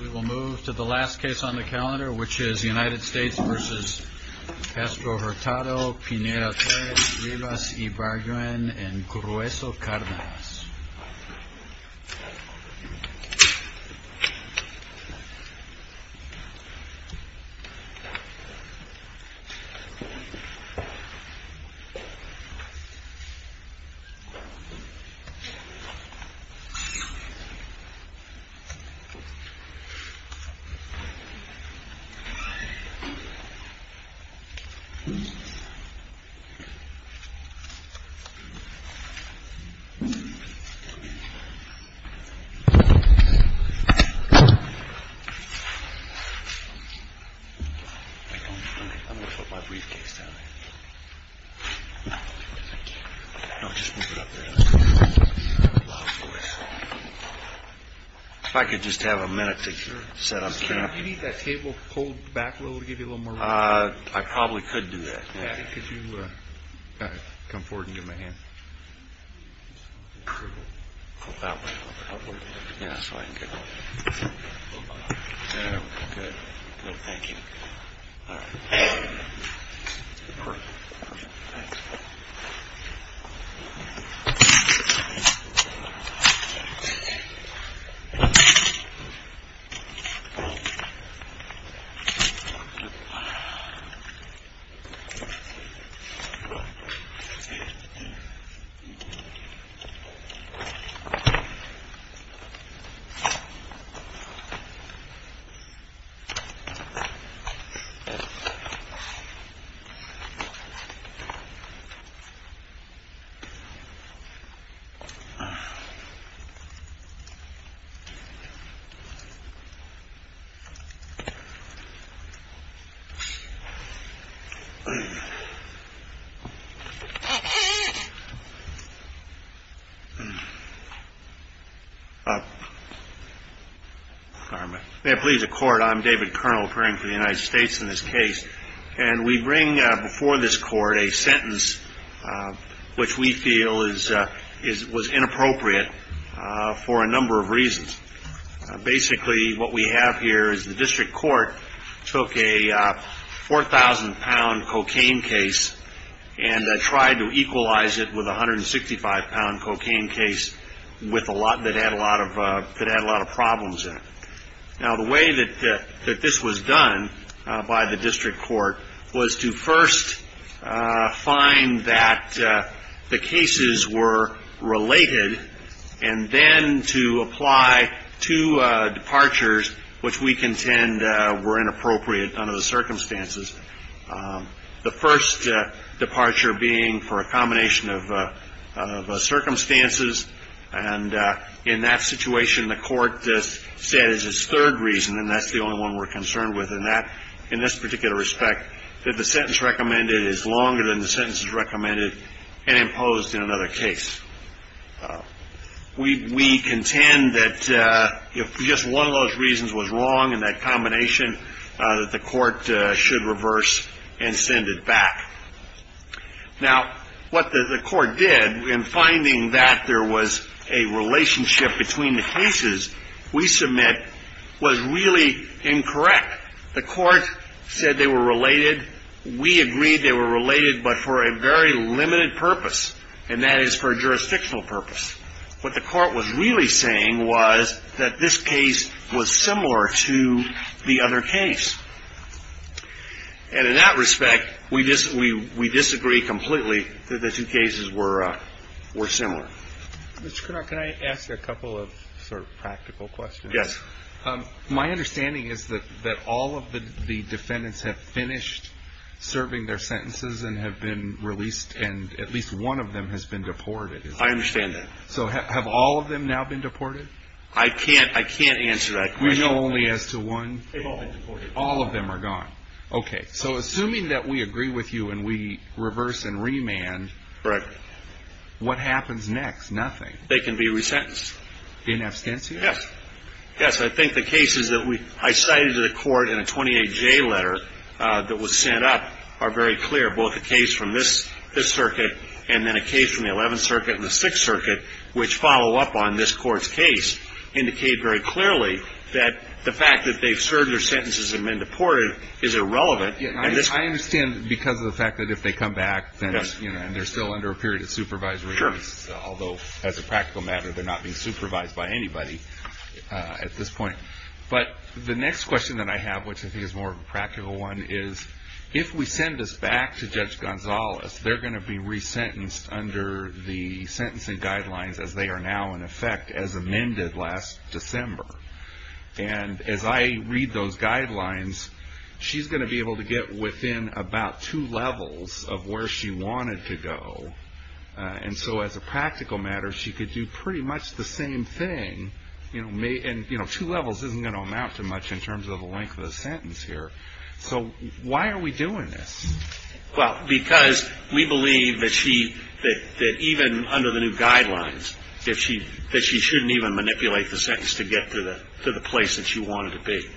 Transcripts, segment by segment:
We will move to the last case on the calendar, which is United States v. Castro-Hurtado, Pineda-Torres, Rivas-Ibarguen, and Grueso-Cardenas. I'm going to put my briefcase down. If I could just have a minute to set up camp. Do you need that table pulled back a little to give you a little more room? I probably could do that. Could you come forward and give me a hand? Pull that way a little bit. That way? Yeah, so I can get a little closer. There we go. Good. Thank you. All right. Perfect. Thanks. Thank you. May it please the Court. I'm David Kernel, appearing for the United States in this case. And we bring before this Court a sentence which we feel was inappropriate for a number of reasons. Basically, what we have here is the district court took a 4,000-pound cocaine case and tried to equalize it with a 165-pound cocaine case that had a lot of problems in it. Now, the way that this was done by the district court was to first find that the cases were related and then to apply two departures which we contend were inappropriate under the circumstances, the first departure being for a combination of circumstances. And in that situation, the Court said as its third reason, and that's the only one we're concerned with in this particular respect, that the sentence recommended is longer than the sentences recommended and imposed in another case. We contend that if just one of those reasons was wrong in that combination, that the Court should reverse and send it back. Now, what the Court did in finding that there was a relationship between the cases we submit was really incorrect. The Court said they were related. We agreed they were related but for a very limited purpose, and that is for a jurisdictional purpose. What the Court was really saying was that this case was similar to the other case. And in that respect, we disagree completely that the two cases were similar. Mr. Cournot, can I ask you a couple of sort of practical questions? Yes. My understanding is that all of the defendants have finished serving their sentences and have been released, and at least one of them has been deported. I understand that. So have all of them now been deported? I can't answer that question. We know only as to one? They've all been deported. All of them are gone. Okay. So assuming that we agree with you and we reverse and remand, what happens next? Nothing. They can be resentenced. In absentia? Yes. Yes, I think the cases that I cited to the Court in a 28J letter that was sent up are very clear. Both the case from this circuit and then a case from the 11th Circuit and the 6th Circuit, which follow up on this Court's case, indicate very clearly that the fact that they've served their sentences and been deported is irrelevant. I understand because of the fact that if they come back and they're still under a period of supervisory notice, although as a practical matter they're not being supervised by anybody at this point. But the next question that I have, which I think is a more practical one, is if we send this back to Judge Gonzalez, they're going to be resentenced under the sentencing guidelines as they are now in effect as amended last December. And as I read those guidelines, she's going to be able to get within about two levels of where she wanted to go. And so as a practical matter, she could do pretty much the same thing. And two levels isn't going to amount to much in terms of the length of the sentence here. So why are we doing this? Well, because we believe that she, that even under the new guidelines, that she shouldn't even manipulate the sentence to get to the place that she wanted to be.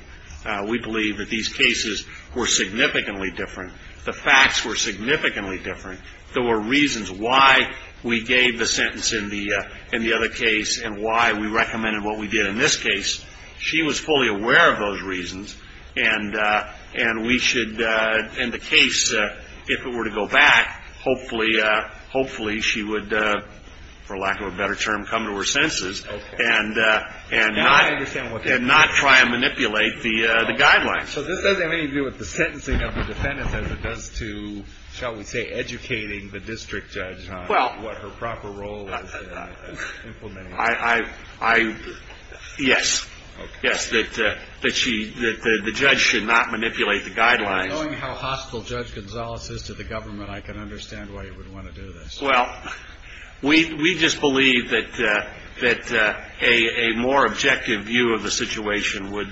We believe that these cases were significantly different. The facts were significantly different. There were reasons why we gave the sentence in the other case and why we recommended what we did in this case. She was fully aware of those reasons. And we should, in the case, if it were to go back, hopefully she would, for lack of a better term, come to her senses. And not try and manipulate the guidelines. So this doesn't have anything to do with the sentencing of the defendants as it does to, shall we say, educating the district judge on what her proper role is in implementing it. Yes. Yes, that the judge should not manipulate the guidelines. Knowing how hostile Judge Gonzales is to the government, I can understand why you would want to do this. Well, we just believe that a more objective view of the situation would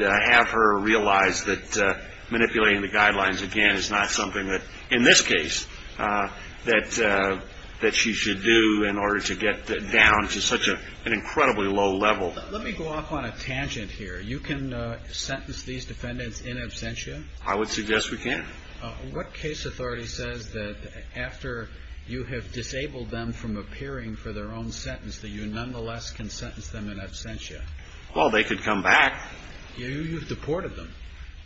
have her realize that manipulating the guidelines, again, is not something that, in this case, that she should do in order to get down to such an incredibly low level. Let me go off on a tangent here. You can sentence these defendants in absentia? I would suggest we can. What case authority says that after you have disabled them from appearing for their own sentence, that you nonetheless can sentence them in absentia? Well, they could come back. You've deported them.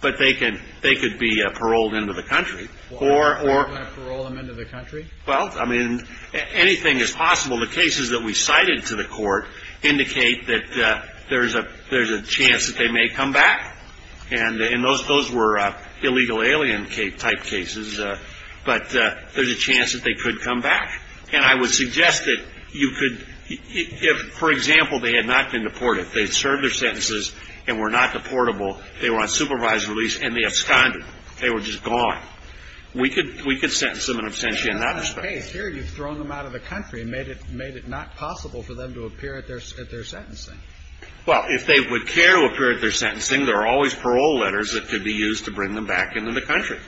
But they could be paroled into the country. You want to parole them into the country? Well, I mean, anything is possible. The cases that we cited to the court indicate that there's a chance that they may come back. And those were illegal alien type cases. But there's a chance that they could come back. And I would suggest that you could, if, for example, they had not been deported, if they had served their sentences and were not deportable, they were on supervised release and they absconded. They were just gone. We could sentence them in absentia in that respect. But that's not the case here. You've thrown them out of the country and made it not possible for them to appear at their sentencing. Well, if they would care to appear at their sentencing, there are always parole letters that could be used to bring them back into the country.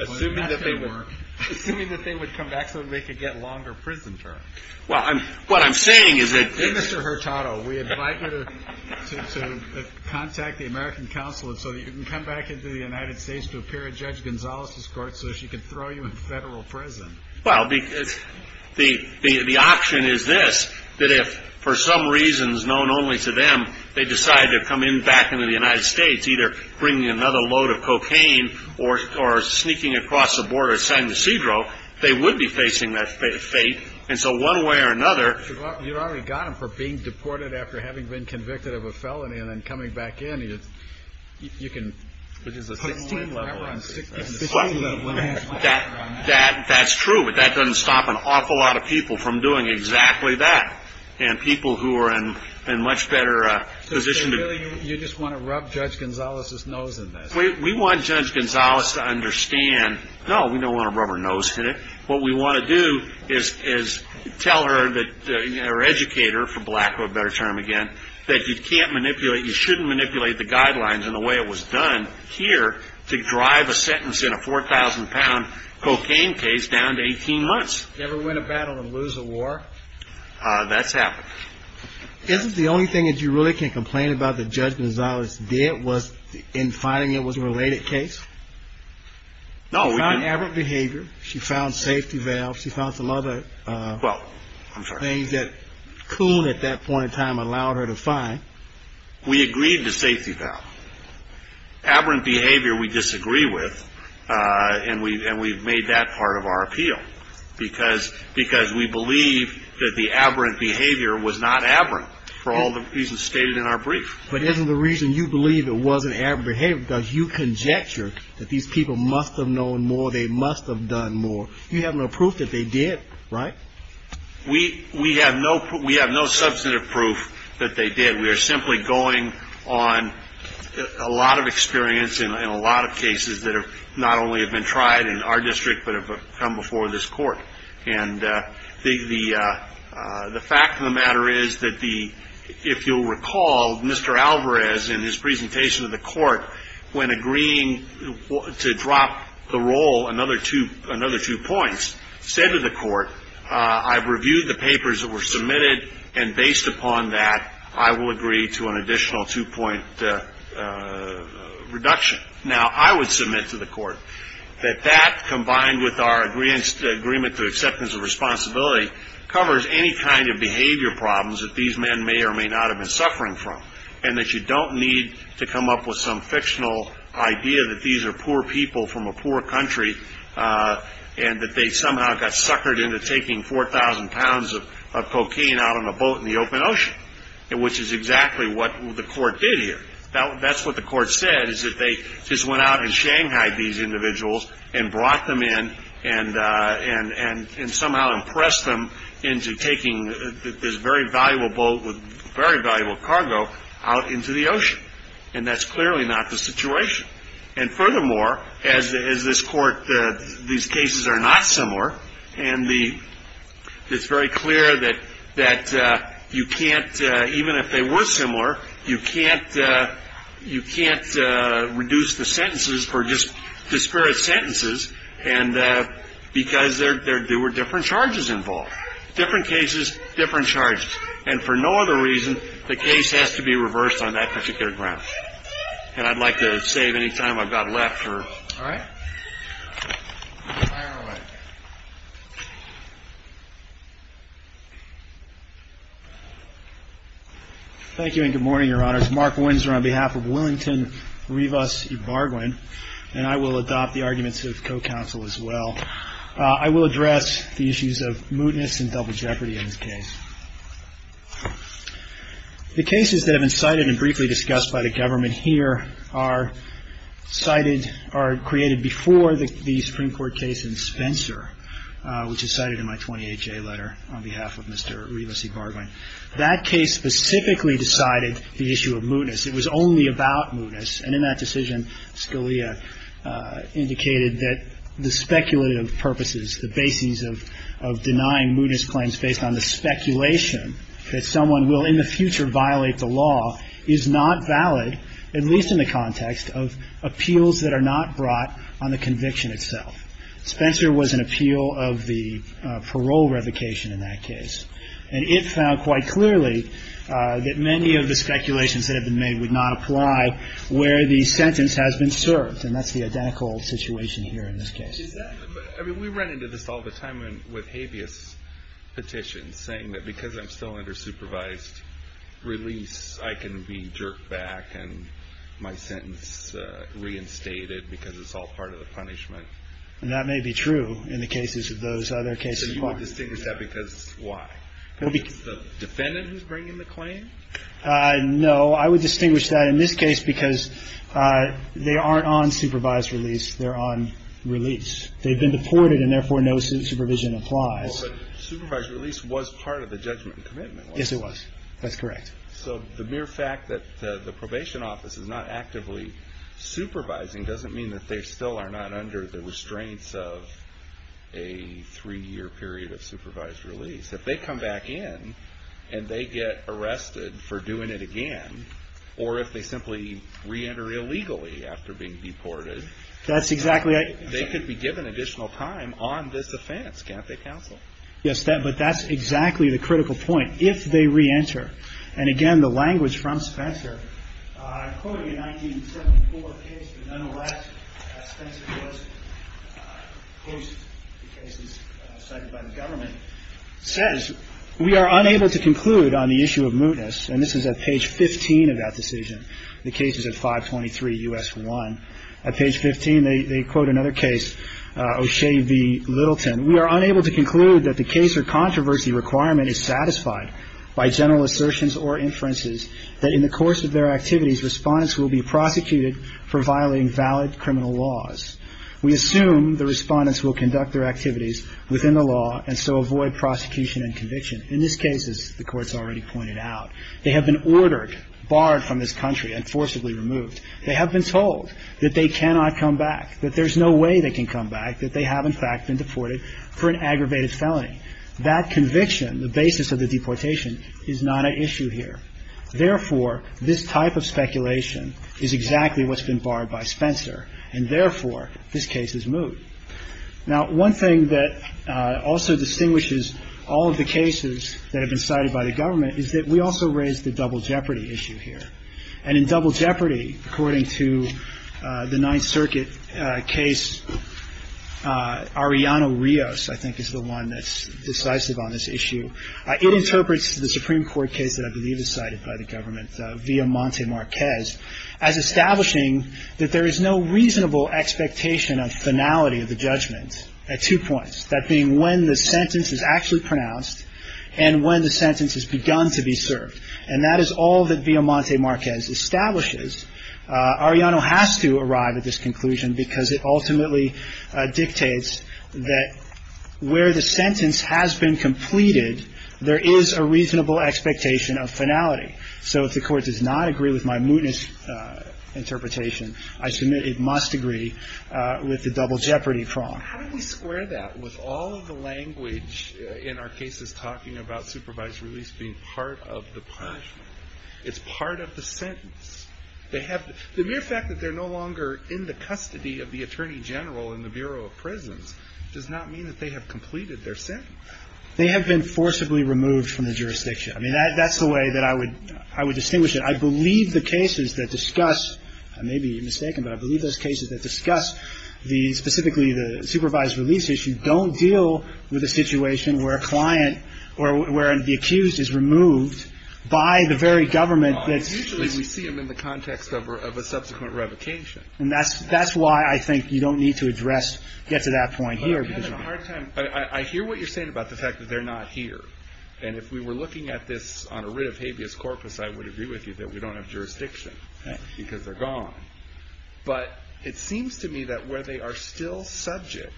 Assuming that they weren't. Assuming that they would come back so that they could get longer prison terms. Well, what I'm saying is that this is the case. We invite you to contact the American Council so that you can come back into the United States to appear at Judge Gonzales' court so she can throw you in federal prison. Well, the option is this, that if, for some reasons known only to them, they decide to come back into the United States, either bringing another load of cocaine or sneaking across the border to San Ysidro, they would be facing that fate. And so one way or another. You've already got them for being deported after having been convicted of a felony and then coming back in. You can put a 16-level on 16. That's true, but that doesn't stop an awful lot of people from doing exactly that. And people who are in a much better position. So really you just want to rub Judge Gonzales' nose in this. We want Judge Gonzales to understand, no, we don't want to rub her nose in it. What we want to do is tell her or educate her, for lack of a better term again, that you can't manipulate, you shouldn't manipulate the guidelines in the way it was done here to drive a sentence in a 4,000-pound cocaine case down to 18 months. Ever win a battle and lose a war? That's happened. Isn't the only thing that you really can complain about that Judge Gonzales did No, we didn't. She found aberrant behavior. She found safety valves. She found some other things that Coon at that point in time allowed her to find. We agreed to safety valve. Aberrant behavior we disagree with, and we've made that part of our appeal because we believe that the aberrant behavior was not aberrant for all the reasons stated in our brief. But isn't the reason you believe it wasn't aberrant behavior because you conjecture that these people must have known more, they must have done more. You have no proof that they did, right? We have no substantive proof that they did. We are simply going on a lot of experience in a lot of cases that not only have been tried in our district but have come before this court. And the fact of the matter is that if you'll recall, Mr. Alvarez in his presentation to the court, when agreeing to drop the roll another two points, said to the court, I've reviewed the papers that were submitted, and based upon that I will agree to an additional two-point reduction. Now, I would submit to the court that that combined with our agreement to acceptance of responsibility covers any kind of behavior problems that these men may or may not have been suffering from and that you don't need to come up with some fictional idea that these are poor people from a poor country and that they somehow got suckered into taking 4,000 pounds of cocaine out on a boat in the open ocean, which is exactly what the court did here. That's what the court said, is that they just went out in Shanghai, these individuals, and brought them in and somehow impressed them into taking this very valuable boat with very valuable cargo out into the ocean. And that's clearly not the situation. And furthermore, as this court, these cases are not similar, and it's very clear that you can't, even if they were similar, you can't reduce the sentences for just disparate sentences because there were different charges involved, different cases, different charges. And for no other reason, the case has to be reversed on that particular ground. And I'd like to save any time I've got left. All right. Fire away. Thank you and good morning, Your Honors. Mark Windsor on behalf of Willington Rivas Ibarguen, and I will adopt the arguments of co-counsel as well. I will address the issues of mootness and double jeopardy in this case. The cases that have been cited and briefly discussed by the government here are cited or created before the Supreme Court case in Spencer, which is cited in my 28-J letter on behalf of Mr. Rivas Ibarguen. That case specifically decided the issue of mootness. It was only about mootness. And in that decision, Scalia indicated that the speculative purposes, the basis of denying mootness claims based on the speculation that someone will in the future violate the law is not valid, at least in the context of appeals that are not brought on the conviction itself. Spencer was an appeal of the parole revocation in that case. And it found quite clearly that many of the speculations that have been made would not apply where the sentence has been served. And that's the identical situation here in this case. We run into this all the time with habeas petitions, saying that because I'm still under supervised release, I can be jerked back and my sentence reinstated because it's all part of the punishment. And that may be true in the cases of those other cases. So you would distinguish that because why? Because it's the defendant who's bringing the claim? No, I would distinguish that in this case because they aren't on supervised release, they're on release. They've been deported and therefore no supervision applies. But supervised release was part of the judgment and commitment. Yes, it was. That's correct. So the mere fact that the probation office is not actively supervising doesn't mean that they still are not under the restraints of a three-year period of supervised release. If they come back in and they get arrested for doing it again, or if they simply re-enter illegally after being deported, they could be given additional time on this offense, can't they, counsel? Yes, but that's exactly the critical point. If they re-enter, and again the language from Spencer, I'm quoting a 1974 case, but nonetheless, Spencer Post, the case cited by the government, says we are unable to conclude on the issue of mootness. And this is at page 15 of that decision. The case is at 523 U.S. 1. At page 15 they quote another case, O'Shea v. Littleton. We are unable to conclude that the case or controversy requirement is satisfied by general assertions or inferences that in the course of their activities, Respondents will be prosecuted for violating valid criminal laws. We assume the Respondents will conduct their activities within the law and so avoid prosecution and conviction. In this case, as the Court's already pointed out, they have been ordered, barred from this country and forcibly removed. They have been told that they cannot come back, that there's no way they can come back, that they have, in fact, been deported for an aggravated felony. That conviction, the basis of the deportation, is not at issue here. Therefore, this type of speculation is exactly what's been barred by Spencer, and therefore, this case is moot. Now, one thing that also distinguishes all of the cases that have been cited by the government is that we also raise the double jeopardy issue here. And in double jeopardy, according to the Ninth Circuit case, Ariano Rios, I think, is the one that's decisive on this issue. It interprets the Supreme Court case that I believe is cited by the government, Villamonte Marquez, as establishing that there is no reasonable expectation of finality of the judgment at two points, that being when the sentence is actually pronounced and when the sentence has begun to be served. And that is all that Villamonte Marquez establishes. Ariano has to arrive at this conclusion because it ultimately dictates that where the sentence has been completed, there is a reasonable expectation of finality. So if the Court does not agree with my mootness interpretation, I submit it must agree with the double jeopardy prong. How do we square that with all of the language in our cases talking about supervised release being part of the punishment? It's part of the sentence. The mere fact that they're no longer in the custody of the Attorney General in the Bureau of Prisons does not mean that they have completed their sentence. They have been forcibly removed from the jurisdiction. I mean, that's the way that I would distinguish it. I believe the cases that discuss – I may be mistaken, but I believe those cases that discuss specifically the supervised release issue don't deal with a situation where a client or where the accused is removed by the very government that's – Usually we see them in the context of a subsequent revocation. And that's why I think you don't need to address – get to that point here. But I'm having a hard time. I hear what you're saying about the fact that they're not here. And if we were looking at this on a writ of habeas corpus, I would agree with you that we don't have jurisdiction because they're gone. But it seems to me that where they are still subject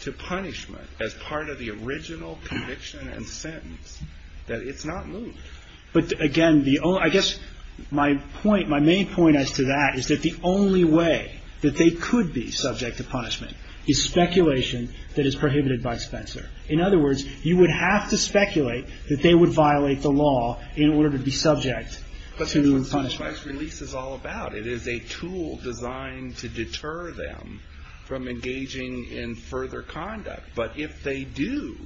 to punishment as part of the original conviction and sentence, that it's not moved. But, again, the – I guess my point – my main point as to that is that the only way that they could be subject to punishment is speculation that is prohibited by Spencer. In other words, you would have to speculate that they would violate the law in order to be subject to punishment. That's what supervised release is all about. It is a tool designed to deter them from engaging in further conduct. But if they do,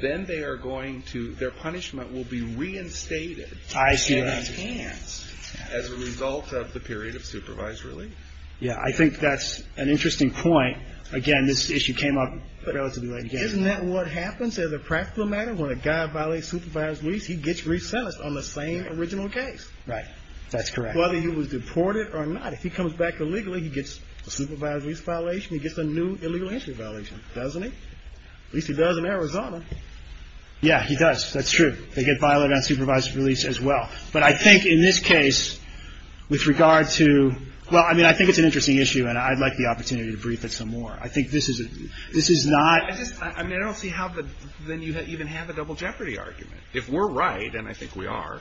then they are going to – their punishment will be reinstated in their hands as a result of the period of supervised release. Yeah, I think that's an interesting point. Again, this issue came up relatively late. Isn't that what happens as a practical matter? When a guy violates supervised release, he gets re-sentenced on the same original case. Right. That's correct. Whether he was deported or not. If he comes back illegally, he gets a supervised release violation. He gets a new illegal entry violation. Doesn't he? At least he does in Arizona. Yeah, he does. That's true. They get violated on supervised release as well. But I think in this case, with regard to – well, I mean, I think it's an interesting issue, and I'd like the opportunity to brief it some more. I think this is not – I just – I mean, I don't see how then you even have a double jeopardy argument. If we're right, and I think we are,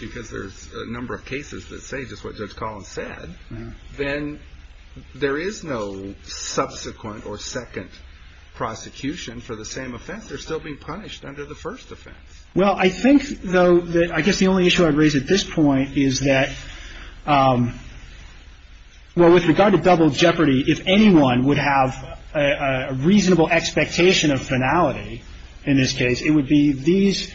because there's a number of cases that say just what Judge Collins said, then there is no subsequent or second prosecution for the same offense. They're still being punished under the first offense. Well, I think, though, that I guess the only issue I'd raise at this point is that – well, with regard to double jeopardy, if anyone would have a reasonable expectation of finality in this case, it would be these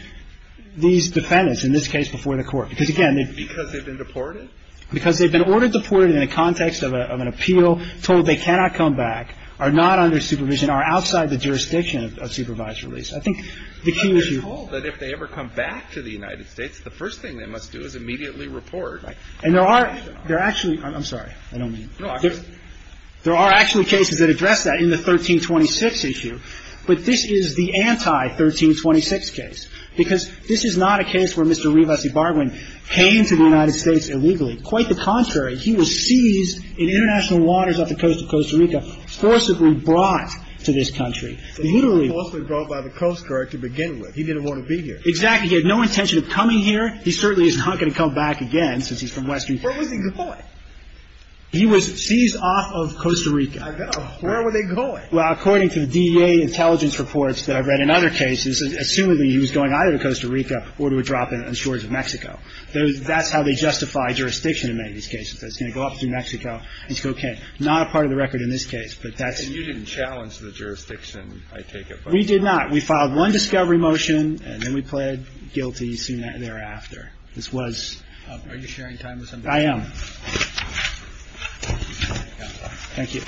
defendants, in this case, before the court. Because, again – Because they've been deported? Because they've been ordered deported in the context of an appeal, told they cannot come back, are not under supervision, are outside the jurisdiction of supervised release. I think the key issue – They're told that if they ever come back to the United States, the first thing they must do is immediately report. And there are – there are actually – I'm sorry. I don't mean – No, I just – There are actually cases that address that in the 1326 issue. But this is the anti-1326 case, because this is not a case where Mr. Revesi-Barwin came to the United States illegally. Quite the contrary. He was seized in international waters off the coast of Costa Rica, forcibly brought to this country. So he was forcibly brought by the Coast Guard to begin with. He didn't want to be here. Exactly. He had no intention of coming here. He certainly is not going to come back again, since he's from Western – Where was he deported? He was seized off of Costa Rica. I know. Where were they going? Well, according to the DEA intelligence reports that I've read in other cases, assuming that he was going either to Costa Rica or to a drop in the shores of Mexico. That's how they justify jurisdiction in many of these cases. It's going to go up through Mexico and say, okay, not a part of the record in this case. But that's – And you didn't challenge the jurisdiction, I take it. We did not. We filed one discovery motion, and then we pled guilty soon thereafter. This was – Are you sharing time with somebody? I am. Thank you.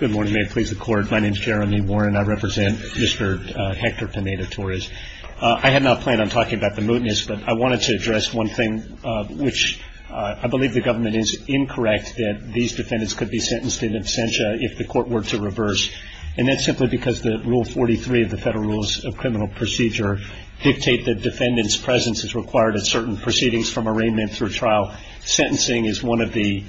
Good morning. May it please the Court. My name is Jeremy Warren. I represent Mr. Hector Pineda-Torres. I had not planned on talking about the mootness, but I wanted to address one thing which I believe the government is incorrect, that these defendants could be sentenced in absentia if the court were to reverse. And that's simply because Rule 43 of the Federal Rules of Criminal Procedure dictate that defendant's presence is required at certain proceedings from arraignment through trial. Sentencing is one of the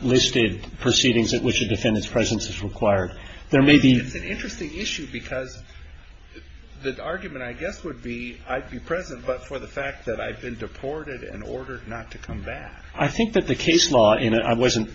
listed proceedings at which a defendant's presence is required. There may be – It's an interesting issue because the argument, I guess, would be I'd be present, but for the fact that I've been deported and ordered not to come back. I think that the case law – and I wasn't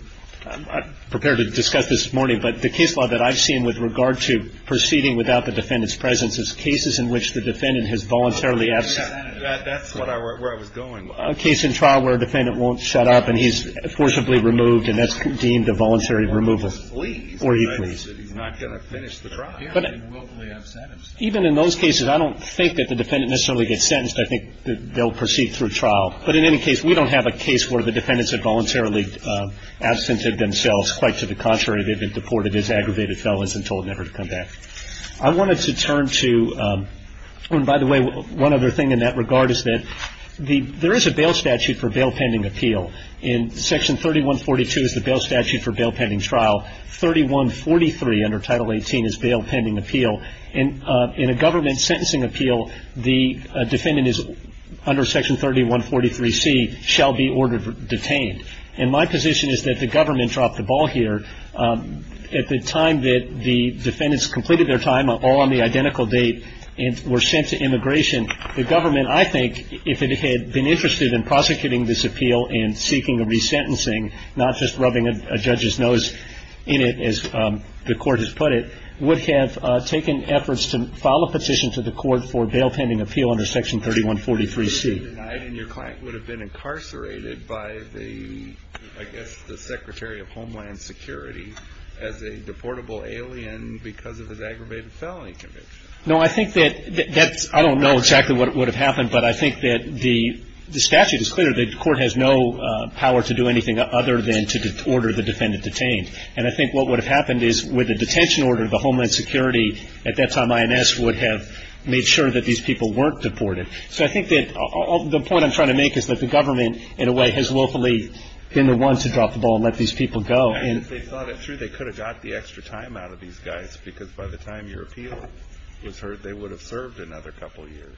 prepared to discuss this morning, but the case law that I've seen with regard to proceeding without the defendant's presence is cases in which the defendant has voluntarily – That's what I – where I was going. A case in trial where a defendant won't shut up and he's forcibly removed and that's deemed a voluntary removal. Or he flees. Or he flees. He's not going to finish the trial. Yeah. Even in those cases, I don't think that the defendant necessarily gets sentenced. I think they'll proceed through trial. But in any case, we don't have a case where the defendants have voluntarily absented themselves. Quite to the contrary, they've been deported as aggravated felons and told never to come back. I wanted to turn to – and by the way, one other thing in that regard is that there is a bail statute for bail pending appeal. In Section 3142 is the bail statute for bail pending trial. 3143 under Title 18 is bail pending appeal. In a government sentencing appeal, the defendant is under Section 3143C, shall be ordered detained. And my position is that the government dropped the ball here. At the time that the defendants completed their time, all on the identical date, and were sent to immigration, the government, I think, if it had been interested in prosecuting this appeal and seeking a resentencing, not just rubbing a judge's nose in it, as the court has put it, would have taken efforts to file a petition to the court for bail pending appeal under Section 3143C. And your client would have been incarcerated by the, I guess, the Secretary of Homeland Security as a deportable alien because of his aggravated felony conviction. No, I think that – I don't know exactly what would have happened, but I think that the statute is clear. The court has no power to do anything other than to order the defendant detained. And I think what would have happened is with a detention order, the Homeland Security, at that time, INS, would have made sure that these people weren't deported. So I think that – the point I'm trying to make is that the government, in a way, has willfully been the one to drop the ball and let these people go. And if they thought it through, they could have got the extra time out of these guys because by the time your appeal was heard, they would have served another couple of years.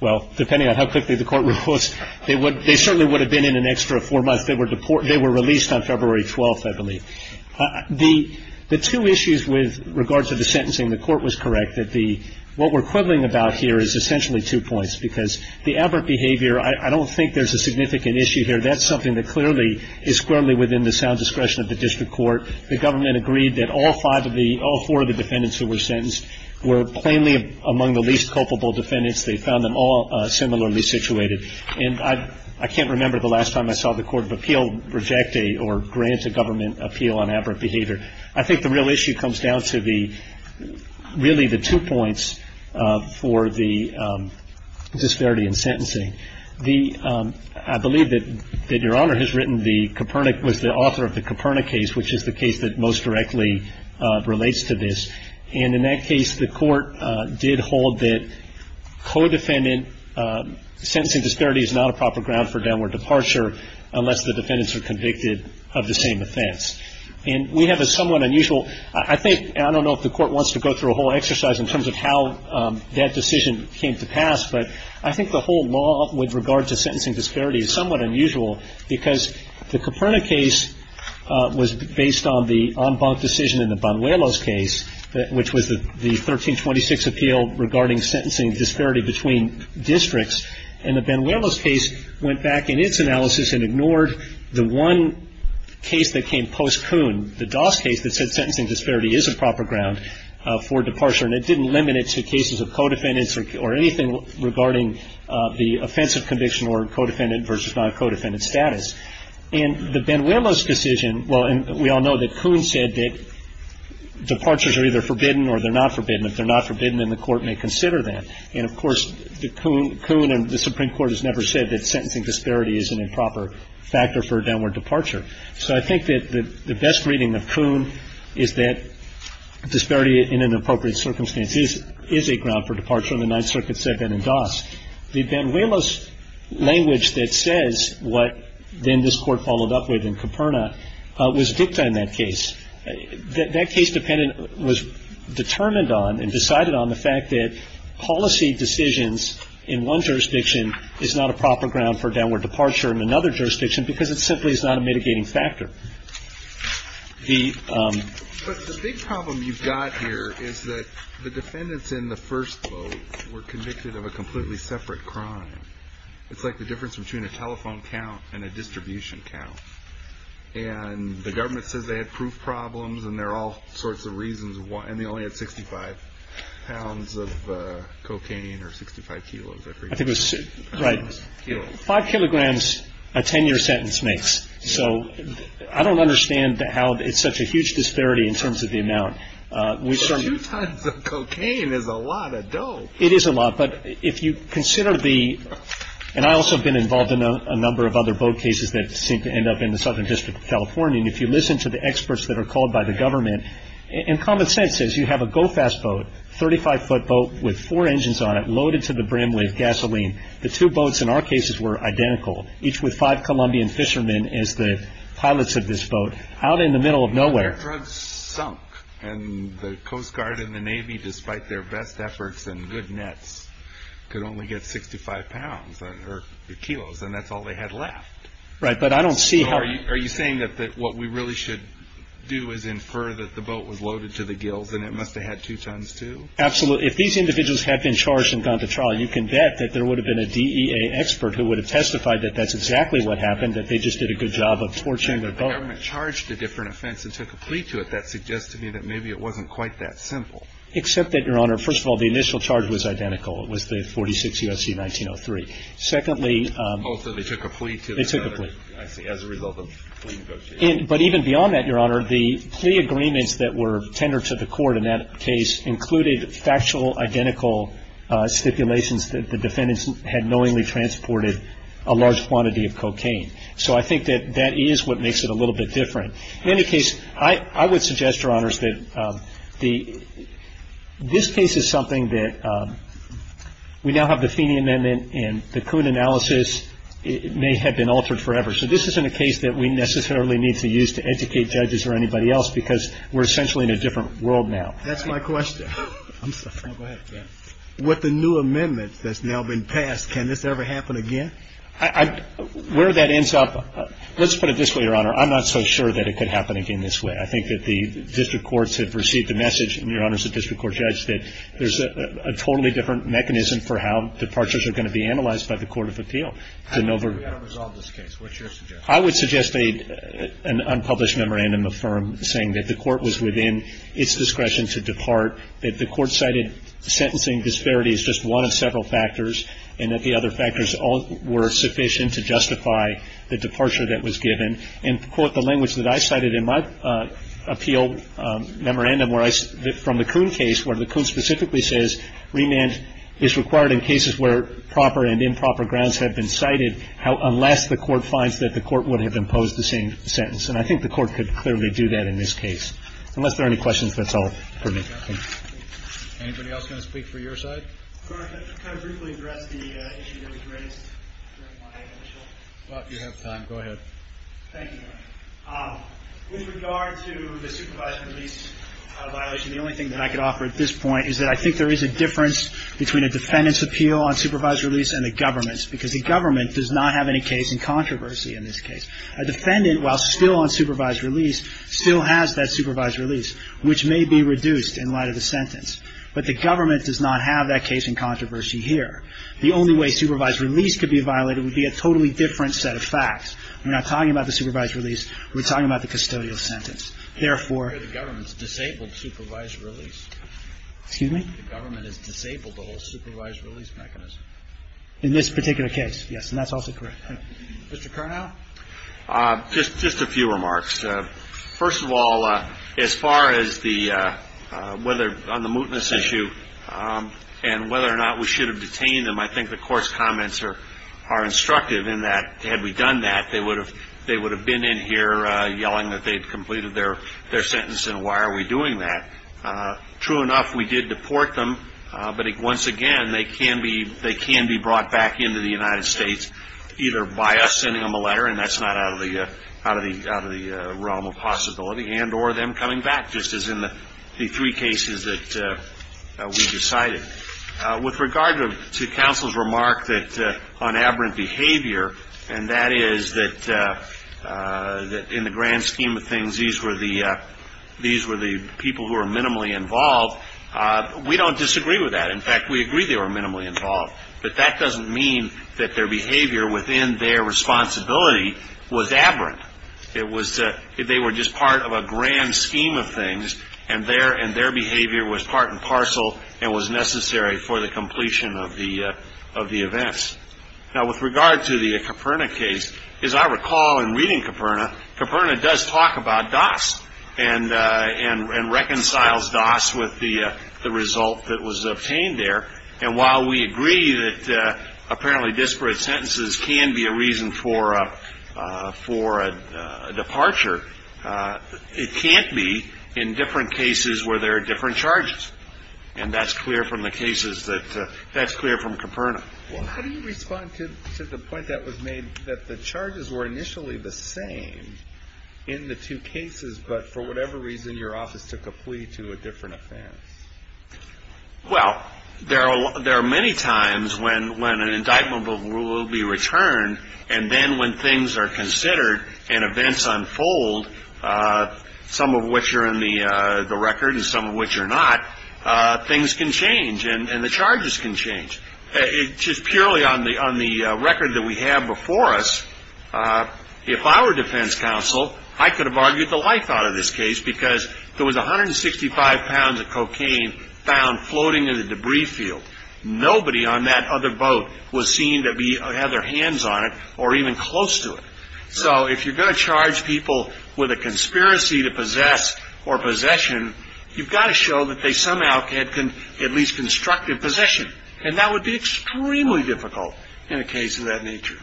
Well, depending on how quickly the court would have pushed, they certainly would have been in an extra four months. They were released on February 12th, I believe. The two issues with regard to the sentencing, the court was correct, that the – what we're quibbling about here is essentially two points because the aberrant behavior – I don't think there's a significant issue here. That's something that clearly is squarely within the sound discretion of the district court. The government agreed that all five of the – all four of the defendants who were sentenced were plainly among the least culpable defendants. They found them all similarly situated. And I can't remember the last time I saw the court of appeal reject a or grant a government appeal on aberrant behavior. I think the real issue comes down to the – really the two points for the disparity in sentencing. The – I believe that Your Honor has written the Copernic – was the author of the Copernic case, which is the case that most directly relates to this. And in that case, the court did hold that co-defendant – sentencing disparity is not a proper ground for downward departure unless the defendants are convicted of the same offense. And we have a somewhat unusual – I think – and I don't know if the court wants to go through a whole exercise in terms of how that decision came to pass, but I think the whole law with regard to sentencing disparity is somewhat unusual because the Copernic case was based on the en banc decision in the Banuelos case, which was the 1326 appeal regarding sentencing disparity between districts. And the Banuelos case went back in its analysis and ignored the one case that came post-Coon, the Doss case that said sentencing disparity is a proper ground for departure. And it didn't limit it to cases of co-defendants or anything regarding the offensive conviction or co-defendant versus non-co-defendant status. In the Banuelos decision – well, and we all know that Coon said that departures are either forbidden or they're not forbidden. If they're not forbidden, then the court may consider them. And, of course, Coon and the Supreme Court has never said that sentencing disparity is an improper factor for a downward departure. So I think that the best reading of Coon is that disparity in an appropriate circumstance is a ground for departure in the Ninth Circuit, Sebin, and Doss. The Banuelos language that says what then this Court followed up with in Coperna was dicta in that case. That case was determined on and decided on the fact that policy decisions in one jurisdiction is not a proper ground for a downward departure in another jurisdiction because it simply is not a mitigating factor. But the big problem you've got here is that the defendants in the first vote were convicted of a completely separate crime. It's like the difference between a telephone count and a distribution count. And the government says they had proof problems, and there are all sorts of reasons why, and they only had 65 pounds of cocaine or 65 kilos, I forget. I think it was, right, 5 kilograms a 10-year sentence makes. So I don't understand how it's such a huge disparity in terms of the amount. Two tons of cocaine is a lot of dough. It is a lot. But if you consider the, and I also have been involved in a number of other vote cases that seem to end up in the Southern District of California, and if you listen to the experts that are called by the government, and common sense says you have a go-fast boat, 35-foot boat with four engines on it, loaded to the brim with gasoline. The two boats in our cases were identical, each with five Colombian fishermen as the pilots of this boat out in the middle of nowhere. Their drugs sunk, and the Coast Guard and the Navy, despite their best efforts and good nets, could only get 65 pounds or kilos, and that's all they had left. Right, but I don't see how. So are you saying that what we really should do is infer that the boat was loaded to the gills and it must have had two tons too? Absolutely. If these individuals had been charged and gone to trial, you can bet that there would have been a DEA expert who would have testified that that's exactly what happened, that they just did a good job of torching the boat. Right, but the government charged a different offense and took a plea to it. That suggests to me that maybe it wasn't quite that simple. Except that, Your Honor, first of all, the initial charge was identical. It was the 46 U.S.C. 1903. Secondly. Oh, so they took a plea to it. They took a plea. I see. As a result of a plea negotiation. But even beyond that, Your Honor, the plea agreements that were tendered to the court in that case included factual, identical stipulations that the defendants had knowingly transported a large quantity of cocaine. So I think that that is what makes it a little bit different. In any case, I would suggest, Your Honors, that this case is something that we now have the Feeney Amendment and the Coon analysis may have been altered forever. So this isn't a case that we necessarily need to use to educate judges or anybody else because we're essentially in a different world now. That's my question. I'm sorry. No, go ahead. With the new amendment that's now been passed, can this ever happen again? Where that ends up, let's put it this way, Your Honor. I'm not so sure that it could happen again this way. I think that the district courts have received the message, and Your Honors, the district court judge, that there's a totally different mechanism for how departures are going to be analyzed by the court of appeal. We've got to resolve this case. What's your suggestion? I would suggest an unpublished memorandum of firm saying that the court was within its discretion to depart, that the court cited sentencing disparity as just one of several factors and that the other factors were sufficient to justify the departure that was given and to quote the language that I cited in my appeal memorandum from the Kuhn case where the Kuhn specifically says remand is required in cases where proper and improper grounds have been cited unless the court finds that the court would have imposed the same sentence. And I think the court could clearly do that in this case. Unless there are any questions, that's all for me. Anybody else going to speak for your side? Could I briefly address the issue that was raised during my initial? Well, if you have time, go ahead. Thank you, Your Honor. With regard to the supervised release violation, the only thing that I could offer at this point is that I think there is a difference between a defendant's appeal on supervised release and the government's because the government does not have any case in controversy in this case. A defendant, while still on supervised release, still has that supervised release, which may be reduced in light of the sentence. But the government does not have that case in controversy here. The only way supervised release could be violated would be a totally different set of facts. We're not talking about the supervised release. We're talking about the custodial sentence. Therefore, the government's disabled supervised release. Excuse me? The government has disabled the whole supervised release mechanism. In this particular case, yes, and that's also correct. Mr. Curnow? Just a few remarks. First of all, as far as on the mootness issue and whether or not we should have detained them, I think the court's comments are instructive in that had we done that, they would have been in here yelling that they had completed their sentence, and why are we doing that? True enough, we did deport them, but once again they can be brought back into the United States either by us sending them a letter, and that's not out of the realm of possibility, and or them coming back just as in the three cases that we decided. With regard to counsel's remark on aberrant behavior, and that is that in the grand scheme of things these were the people who were minimally involved, we don't disagree with that. In fact, we agree they were minimally involved. But that doesn't mean that their behavior within their responsibility was aberrant. They were just part of a grand scheme of things, and their behavior was part and parcel and was necessary for the completion of the events. Now, with regard to the Caperna case, as I recall in reading Caperna, Caperna does talk about Doss and reconciles Doss with the result that was obtained there, and while we agree that apparently disparate sentences can be a reason for a departure, it can't be in different cases where there are different charges, and that's clear from the cases that that's clear from Caperna. How do you respond to the point that was made that the charges were initially the same in the two cases, but for whatever reason your office took a plea to a different offense? Well, there are many times when an indictment will be returned, and then when things are considered and events unfold, some of which are in the record and some of which are not, things can change and the charges can change. Just purely on the record that we have before us, if I were defense counsel, I could have argued the life out of this case because there was 165 pounds of cocaine found floating in the debris field. Nobody on that other boat was seen to have their hands on it or even close to it. So if you're going to charge people with a conspiracy to possess or possession, you've got to show that they somehow had at least constructed possession, and that would be extremely difficult in a case of that nature.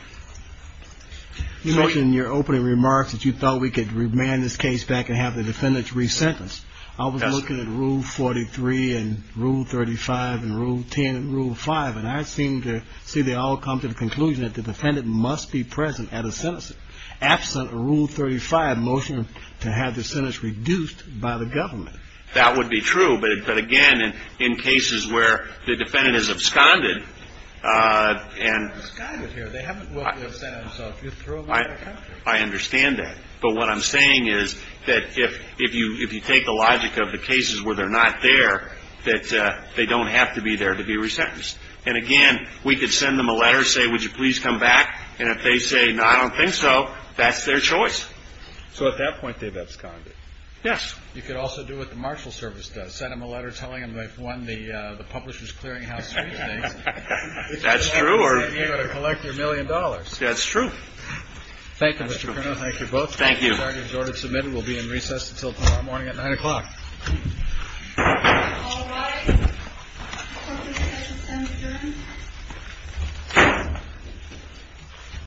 You mentioned in your opening remarks that you thought we could remand this case back and have the defendants resentenced. I was looking at Rule 43 and Rule 35 and Rule 10 and Rule 5, and I seem to see they all come to the conclusion that the defendant must be present at a sentencing. Absent Rule 35 motion to have the sentence reduced by the government. That would be true, but again, in cases where the defendant is absconded and I understand that. But what I'm saying is that if you take the logic of the cases where they're not there, that they don't have to be there to be resentenced. And again, we could send them a letter and say, would you please come back? And if they say, no, I don't think so, that's their choice. So at that point they've absconded. Yes. You could also do what the Marshal Service does, send them a letter telling them they've won the Publishers Clearinghouse. That's true. Or you're going to collect your million dollars. That's true. Thank you. Thank you both. Thank you. We'll be in recess until tomorrow morning at nine o'clock.